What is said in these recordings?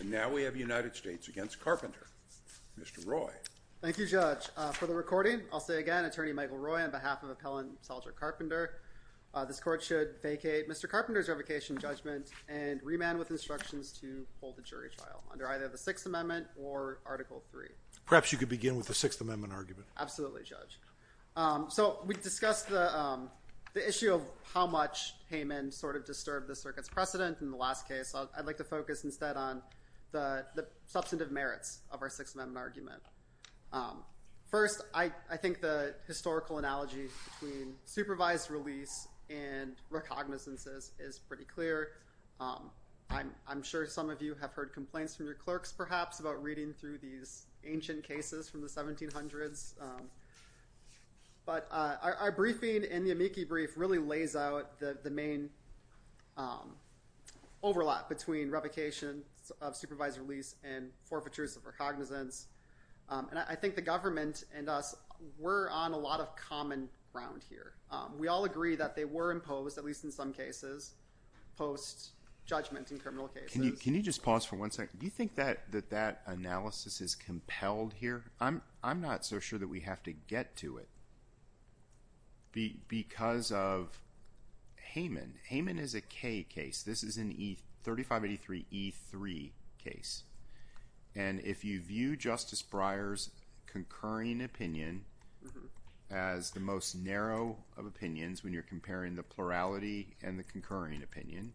And now we have United States v. Carpenter. Mr. Roy. Thank you, Judge. For the recording, I'll say again, Attorney Michael Roy on behalf of Appellant Seldrick Carpenter, this court should vacate Mr. Carpenter's revocation judgment and remand with instructions to hold the jury trial under either the Sixth Amendment or Article III. Perhaps you could begin with the Sixth Amendment argument. Absolutely, Judge. So we discussed the issue of how much Hayman sort of disturbed the circuit's precedent in the last case. I'd like to focus instead on the substantive merits of our Sixth Amendment argument. First, I think the historical analogy between supervised release and recognizances is pretty clear. I'm sure some of you have heard complaints from your clerks, perhaps, about reading through these ancient cases from the 1700s. But our briefing in the amici brief really lays out the main overlap between revocation of supervised release and forfeitures of recognizance. And I think the government and us were on a lot of common ground here. We all agree that they were imposed, at least in some cases, post-judgment in criminal cases. Can you just pause for one second? Do you think that that analysis is compelled here? I'm not so sure that we have to get to it because of Hayman. Hayman is a K case. This is an E3583E3 case. And if you view Justice Breyer's concurring opinion as the most narrow of opinions when you're comparing the plurality and the concurring opinion,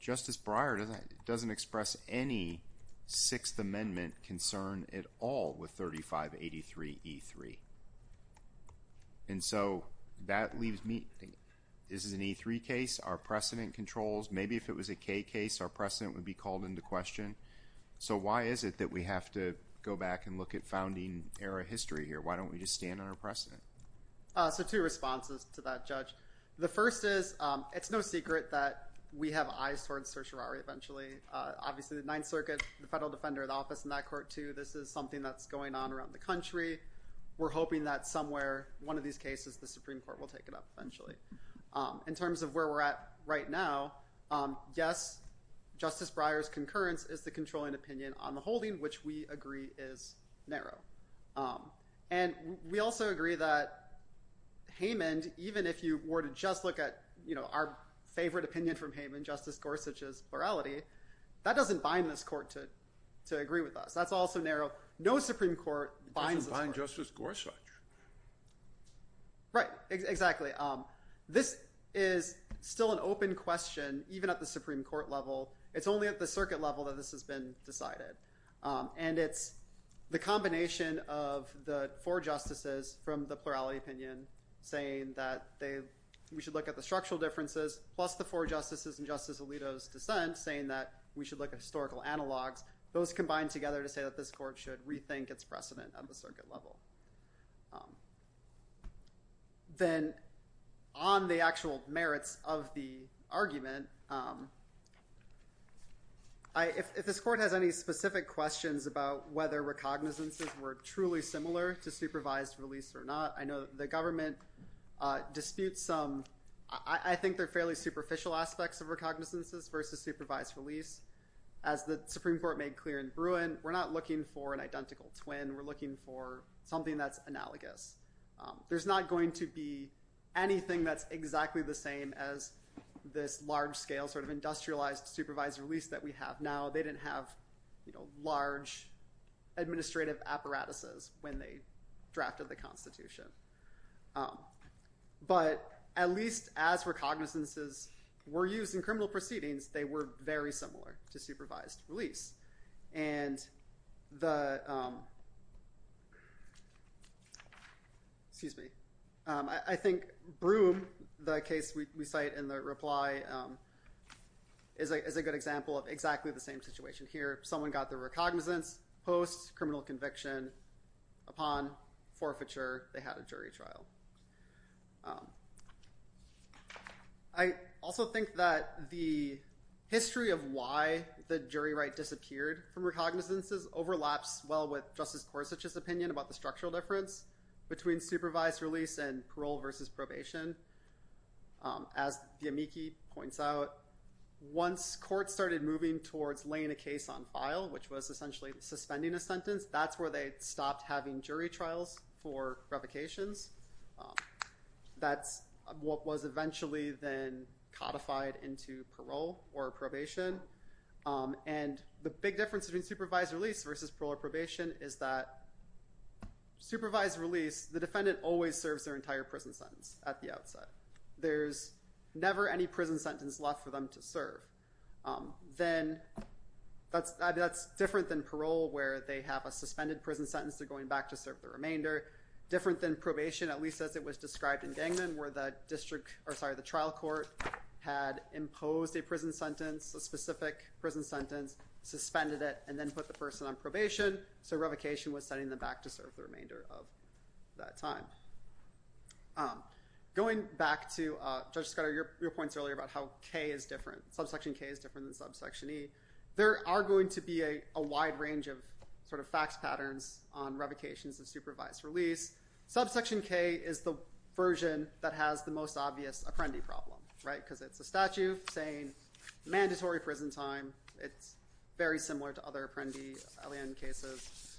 Justice Breyer doesn't express any Sixth Amendment concern at all with 3583E3. And so that leaves me. This is an E3 case. Our precedent controls. Maybe if it was a K case, our precedent would be called into question. So why is it that we have to go back and look at founding-era history here? Why don't we just stand on our precedent? So two responses to that, Judge. The first is, it's no secret that we have eyes towards certiorari eventually. Obviously, the Ninth Circuit, the federal defender of the office in that court, too, this is something that's going on around the country. We're hoping that somewhere, one of these cases, the Supreme Court will take it up eventually. In terms of where we're at right now, yes, Justice Breyer's concurrence is the controlling opinion on the holding, which we agree is narrow. And we also agree that Hamand, even if you were to just look at our favorite opinion from Hamand, Justice Gorsuch's plurality, that doesn't bind this court to agree with us. That's also narrow. No Supreme Court binds this court. It doesn't bind Justice Gorsuch. Right. Exactly. This is still an open question, even at the Supreme Court level. It's only at the circuit level that this has been decided. And it's the combination of the four justices from the plurality opinion saying that we should look at the structural differences plus the four justices in Justice Alito's dissent saying that we should look at historical analogs. Those combined together to say that this court should rethink its precedent at the circuit level. Then on the actual merits of the argument, if this court has any specific questions about whether recognizances were truly similar to supervised release or not, I know the government disputes some. I think they're fairly superficial aspects of recognizances versus supervised release. As the Supreme Court made clear in Bruin, we're not looking for an identical case. We're looking for something that's analogous. There's not going to be anything that's exactly the same as this large scale sort of industrialized supervised release that we have now. They didn't have large administrative apparatuses when they drafted the Constitution. But at least as recognizances were used in criminal proceedings, they were very similar to supervised release. I think Bruin, the case we cite in the reply, is a good example of exactly the same situation here. Someone got their recognizance post-criminal conviction. Upon forfeiture, they had a jury trial. I also think that the history of why the jury right disappeared from recognizances overlaps well with Justice Gorsuch's opinion about the structural difference between supervised release and parole versus probation. As Yamiki points out, once courts started moving towards laying a case on file, which was essentially suspending a sentence, that's where they stopped having jury trials for revocations. That's what was eventually then codified into parole or probation. And the big difference between supervised release versus parole or probation is that supervised release, the defendant always serves their entire prison sentence at the outset. There's never any prison sentence left for them to serve. Then that's different than parole, where they have a suspended prison sentence. They're going back to serve the remainder. Different than probation, at least as it was described in Gangman, where the trial court had imposed a prison sentence, a specific prison sentence, suspended it, and then put the person on probation. So revocation was sending them back to serve the remainder of that time. Going back to, Judge Scudder, your points earlier about how K is different. Subsection K is different than subsection E. There are going to be a wide range of facts patterns on revocations of supervised release. Subsection K is the version that has the most obvious apprendi problem, because it's a statute saying mandatory prison time. It's very similar to other apprendi cases.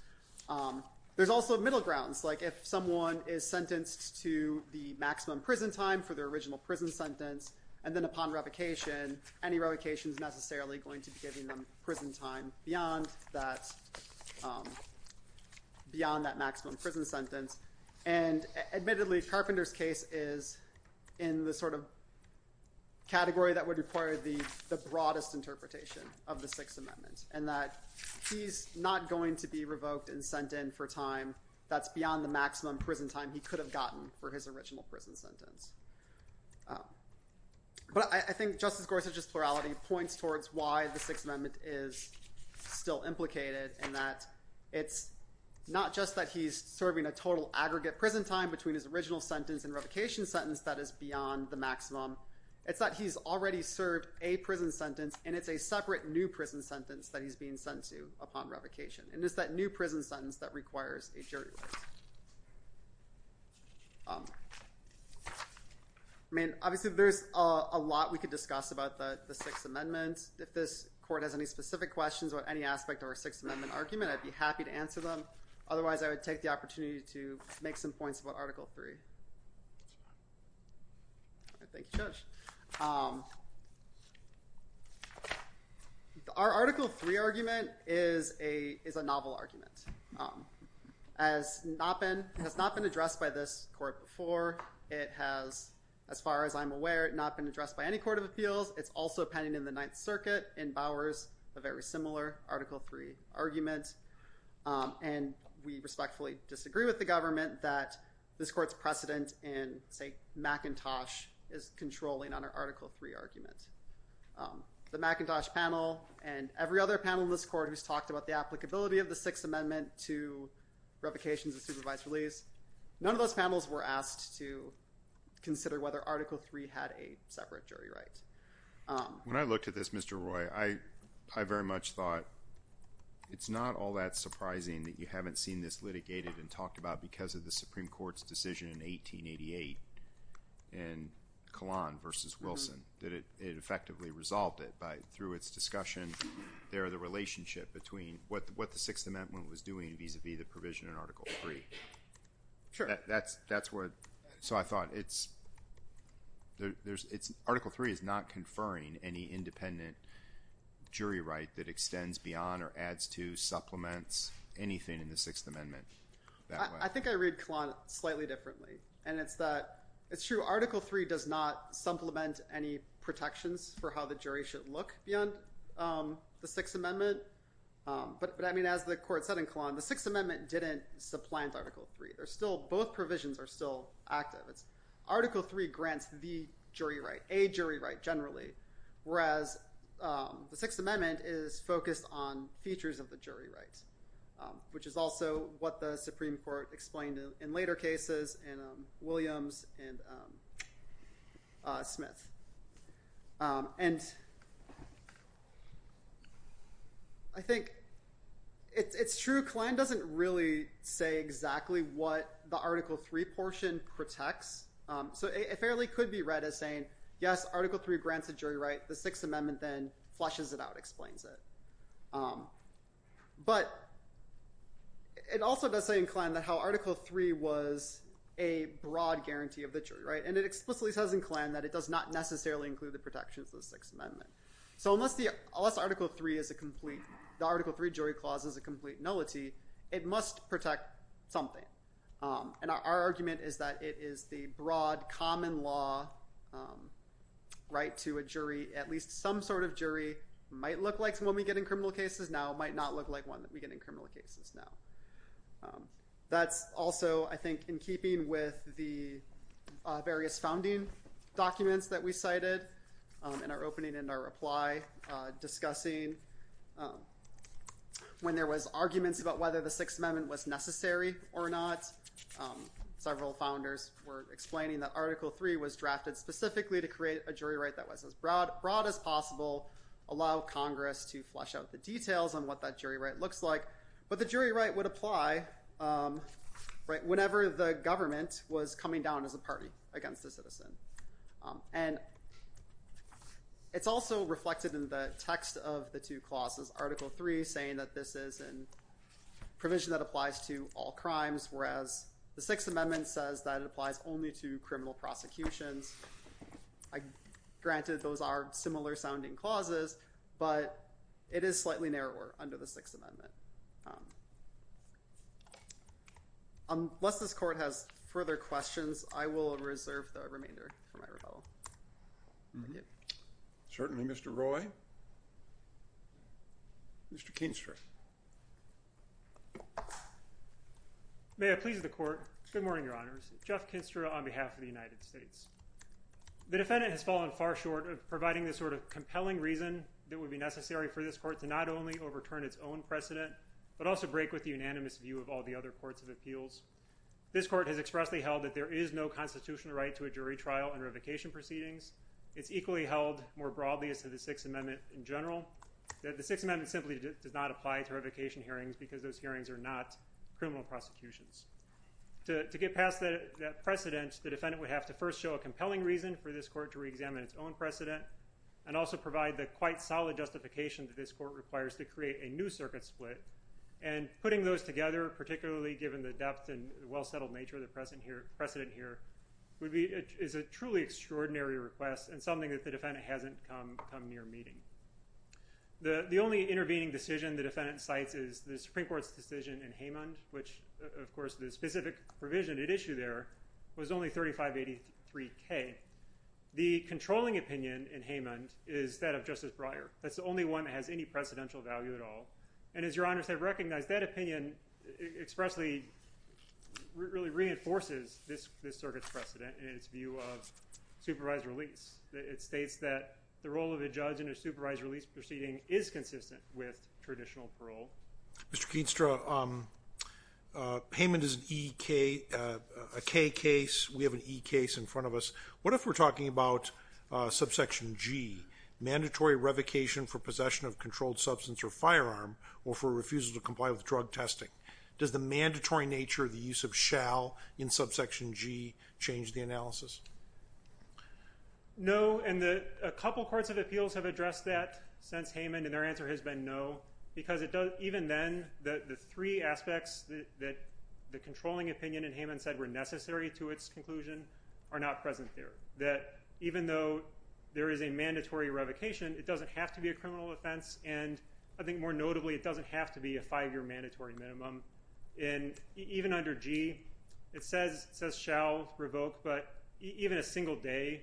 There's also middle grounds, like if someone is sentenced to the maximum prison time for their original prison sentence, and then upon revocation, any revocation is necessarily going to be giving them prison time beyond that maximum prison sentence. And admittedly, Carpenter's case is in the sort of category that would require the broadest interpretation of the Sixth Amendment, in that he's not going to be revoked and sent in for time that's beyond the maximum prison time he could have gotten for his original prison sentence. But I think Justice Gorsuch's plurality points towards why the Sixth Amendment is still implicated, in that it's not just that he's serving a total aggregate prison time between his original sentence and revocation sentence that is beyond the maximum. It's that he's already served a prison sentence, and it's a separate new prison sentence that he's being sent to upon revocation. And it's that new prison sentence that requires a jury. I mean, obviously there's a lot we could discuss about the Sixth Amendment. If this court has any specific questions about any aspect of our Sixth Amendment argument, I'd be happy to answer them. Otherwise, I would take the Thank you, Judge. Our Article III argument is a novel argument. It has not been addressed by this court before. It has, as far as I'm aware, not been addressed by any court of appeals. It's also pending in the Ninth Circuit in Bowers, a very similar Article III argument. And we respectfully disagree with the government that this court's precedent in, say, McIntosh is controlling on our Article III argument. The McIntosh panel and every other panel in this court who's talked about the applicability of the Sixth Amendment to revocations of supervised release, none of those panels were asked to consider whether Article III had a separate jury right. When I looked at this, Mr. Roy, I very much thought it's not all that surprising that you haven't seen this litigated and talked about because of the Supreme Court's decision in 1888 in Kahlon v. Wilson, that it effectively resolved it by, through its discussion there, the relationship between what the Sixth Amendment was doing vis-a-vis the provision in Article III. Sure. That's what, so I thought it's, Article III is not conferring any independent jury right that extends beyond or adds to, supplements anything in the Sixth Amendment that way. I think I read Kahlon slightly differently. And it's that, it's true, Article III does not supplement any protections for how the jury should look beyond the Sixth Amendment. But I mean, as the court said in Kahlon, the Sixth Amendment didn't supplant Article III. There's still, both provisions are still active. Article III grants the jury right, a jury right generally, whereas the Sixth Amendment is focused on features of the jury rights, which is also what the Supreme Court explained in later cases in Williams and Smith. And I think it's true, Kahlon doesn't really say exactly what the Article III portion protects. So it fairly could be read as saying, yes, Article III grants the jury right, the Sixth Amendment then flushes it out, explains it. But it also does say in Kahlon that how Article III was a broad guarantee of the jury right. And it explicitly says in Kahlon that it does not necessarily include the protections of the Sixth Amendment. So unless Article III is a complete, the Article III jury clause is a complete nullity, it must protect something. And our argument is that it is the broad common law right to a jury, at least some sort of jury, might look like the one we get in criminal cases now, might not look like one that we get in criminal cases now. That's also, I think, in keeping with the various founding documents that we cited in our opening and our reply, discussing when there was arguments about whether the Sixth Amendment was necessary or not. Several founders were explaining that Article III was drafted specifically to create a jury right that was as broad as possible, allow Congress to flush out the details on what that jury right looks like. But the jury right would apply whenever the government was coming down as a party against a citizen. And it's also reflected in the text of the two clauses, Article III saying that this is a provision that applies to all crimes, whereas the Sixth Amendment says that it applies only to criminal prosecutions. Granted, those are similar-sounding clauses, but it is slightly narrower under the Sixth Amendment. Unless this Court has further questions, I will reserve the remainder for my rebuttal. Certainly, Mr. Roy. Mr. Kinstra. May it please the Court. Good morning, Your Honors. Jeff Kinstra on behalf of the United States. The defendant has fallen far short of providing the sort of compelling reason that would be necessary for this Court to not only overturn its own precedent, but also break with the unanimous view of all the other courts of appeals. This Court has expressly held that there is no constitutional right to a jury trial and revocation proceedings. It's equally held, more broadly as to the Sixth Amendment in general, that the Sixth Amendment simply does not apply to revocation hearings because those hearings are not criminal prosecutions. To get past that precedent, the defendant would have to first show a compelling reason for this Court to reexamine its own precedent, and also provide the quite solid justification that this Court requires to create a new circuit split. And putting those together, particularly given the depth and well-settled nature of the precedent here, is a truly extraordinary request and something that the defendant hasn't come near meeting. The only intervening decision the defendant cites is the Supreme Court's decision in Haymond, which, of course, the specific provision it issued there was only 3583K. The controlling opinion in Haymond is that of Justice Breyer. That's the only one that has any precedential value at all. And as Your Honors have recognized, that opinion expressly really reinforces this circuit's precedent in its view of supervised release. It states that the role of a judge in a supervised release proceeding is consistent with traditional parole. Mr. Keenstra, Haymond is an E-K, a K case. We have an E case in front of us. What if we're talking about subsection G, mandatory revocation for possession of controlled substance or firearm, or for refusal to comply with drug testing? Does the mandatory nature of the use of shall in subsection G change the analysis? No, and a couple courts of appeals have addressed that since Haymond, and their answer has been no, because even then, the three aspects that the controlling opinion in Haymond said were necessary to its conclusion are not present there. That even though there is a mandatory revocation, it doesn't have to be a criminal offense, and I think more notably, it doesn't have to be a five-year mandatory minimum. And even under G, it says shall, revoke, but even a single day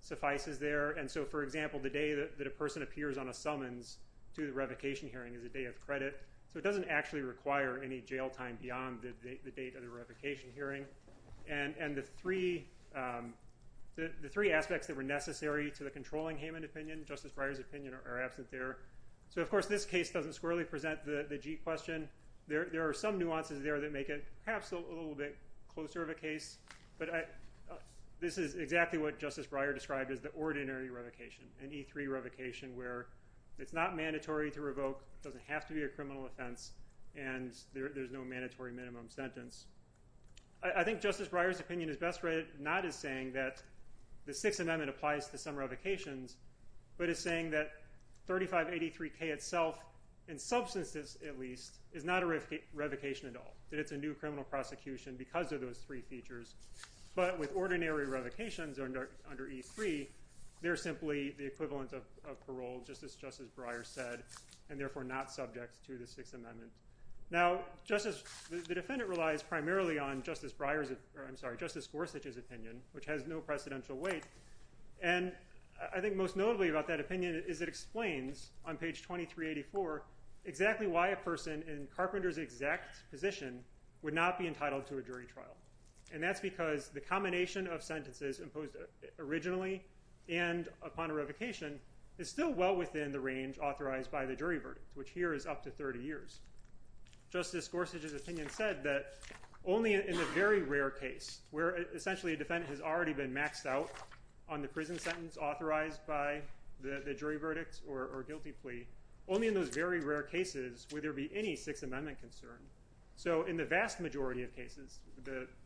suffices there. And so, for example, the day that a person appears on a summons to the revocation hearing is a day of credit, so it doesn't actually require any jail time beyond the date of the revocation hearing. And the three aspects that were necessary to the controlling Haymond opinion, Justice Breyer's opinion, are absent there. So, of course, this case doesn't squarely present the G question. There are some nuances there that make it perhaps a little bit closer of a case, but this is exactly what Justice Breyer described as the ordinary revocation, an E3 revocation where it's not mandatory to revoke, it doesn't have to be a criminal offense, and there's no mandatory minimum sentence. I think Justice Breyer's opinion is best rated not as saying that the Sixth Amendment applies to some revocations, but as saying that 3583K itself, in substance at least, is not a revocation at all, that it's a new criminal prosecution because of those three features, but with 3583, they're simply the equivalent of parole, just as Justice Breyer said, and therefore not subject to the Sixth Amendment. Now, the defendant relies primarily on Justice Gorsuch's opinion, which has no precedential weight, and I think most notably about that opinion is it explains on page 2384 exactly why a person in Carpenter's exact position would not be entitled to a jury trial, and that's because the combination of sentences imposed originally and upon a revocation is still well within the range authorized by the jury verdict, which here is up to 30 years. Justice Gorsuch's opinion said that only in the very rare case where essentially a defendant has already been maxed out on the prison sentence authorized by the jury verdict or guilty plea, only in those very rare cases would there be any Sixth Amendment concern. So in the vast majority of cases,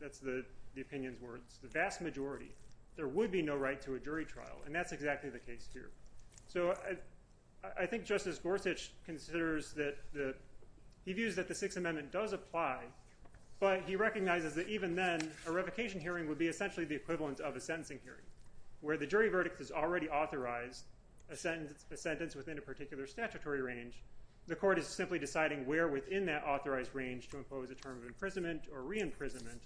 that's the opinion's grounds, the vast majority, there would be no right to a jury trial, and that's exactly the case here. So I think Justice Gorsuch considers that, he views that the Sixth Amendment does apply, but he recognizes that even then, a revocation hearing would be essentially the equivalent of a sentencing hearing, where the jury verdict is already authorized a sentence within a particular statutory range, the court is simply deciding where within that authorized range to impose a term of imprisonment or re-imprisonment,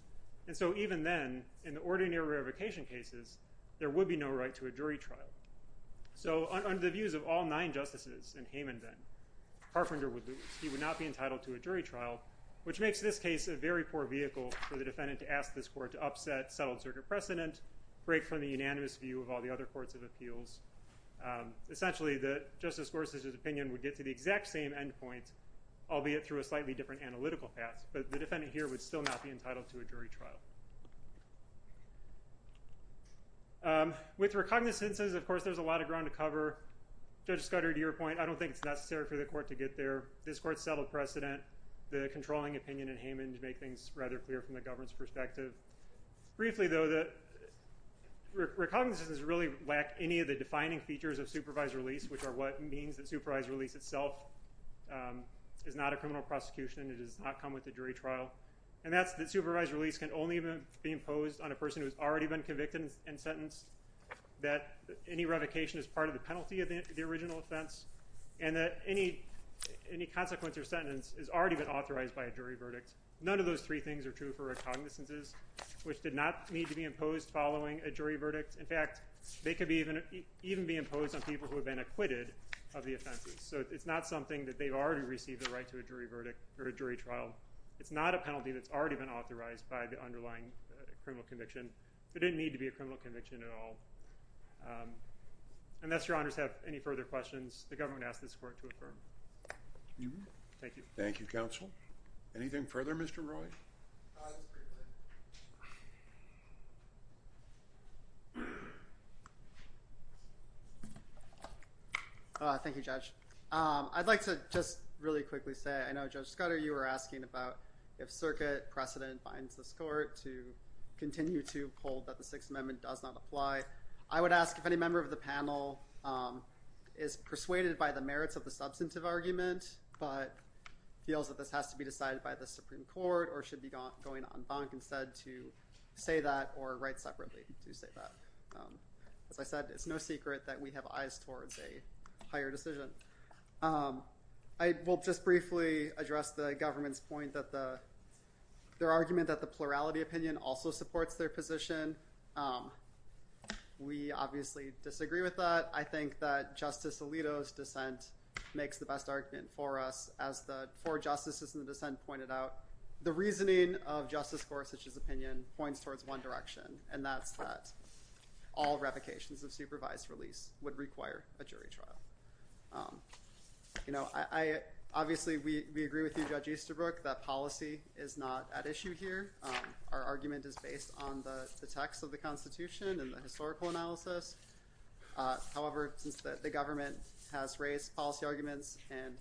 and so even then, in the ordinary revocation cases, there would be no right to a jury trial. So under the views of all nine justices in Hayman, then, Harfinder would lose. He would not be entitled to a jury trial, which makes this case a very poor vehicle for the defendant to ask this court to upset settled circuit precedent, break from the unanimous view of all the other courts of appeals. Essentially, Justice Gorsuch's opinion would get to the exact same end point, albeit through a slightly different analytical path, but the defendant here would still not be entitled to a jury trial. With recognizances, of course, there's a lot of ground to cover. Judge Scudder, to your point, I don't think it's necessary for the court to get there. This court settled precedent, the controlling opinion in Hayman to make things rather clear from the government's perspective. Briefly, though, recognizances really lack any of the defining features of supervised release, which are what means that supervised release itself is not a criminal prosecution, it does not come with a jury trial, and that's that supervised release can only be imposed on a person who's already been convicted and sentenced, that any revocation is part of the penalty of the original offense, and that any consequence or sentence is already been authorized by a jury verdict. None of those three things are true for recognizances, which did not need to be imposed following a jury verdict. In fact, they could even be imposed on people who have been acquitted of the offenses. So it's not something that they've already received the right to a jury verdict or a jury trial. It's not a penalty that's already been authorized by the underlying criminal conviction. It didn't need to be a criminal conviction at all. Unless your honors have any further questions, the government asked this court to affirm. Thank you. Thank you, counsel. Anything further, Mr. Roy? Thank you, Judge. I'd like to just really quickly say, I know, Judge Scudder, you were asking about if circuit precedent binds this court to continue to hold that the Sixth Amendment does not apply. I would ask if any member of the panel is persuaded by the merits of the substantive argument but feels that this has to be decided by the Supreme Court or should be going en banc instead to say that or write separately to say that. As I said, it's no secret that we have eyes towards a higher decision. I will just briefly address the government's point that their argument that the plurality opinion also supports their makes the best argument for us. As the four justices in the dissent pointed out, the reasoning of Justice Gorsuch's opinion points towards one direction, and that's that all revocations of supervised release would require a jury trial. Obviously, we agree with you, Judge Easterbrook, that policy is not at issue here. Our argument is based on the text of the Constitution and the historical analysis. However, since the government has raised policy arguments and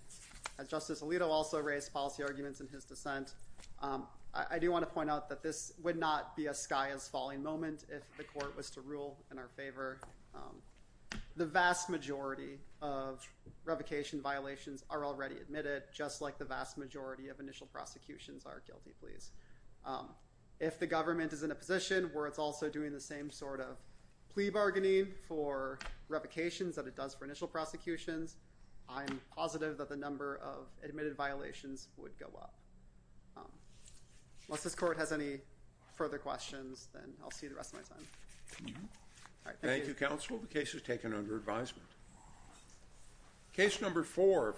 as Justice Alito also raised policy arguments in his dissent, I do want to point out that this would not be a sky is falling moment if the court was to rule in our favor. The vast majority of revocation violations are already admitted, just like the vast majority of initial prosecutions are, guilty please. If the government is in a position where it's also doing the same sort of plea bargaining for revocations that it does for initial prosecutions, I'm positive that the number of admitted violations would go up. Unless this court has any further questions, then I'll see the rest of my time. Thank you, counsel. The case is taken under advisement. Case number four.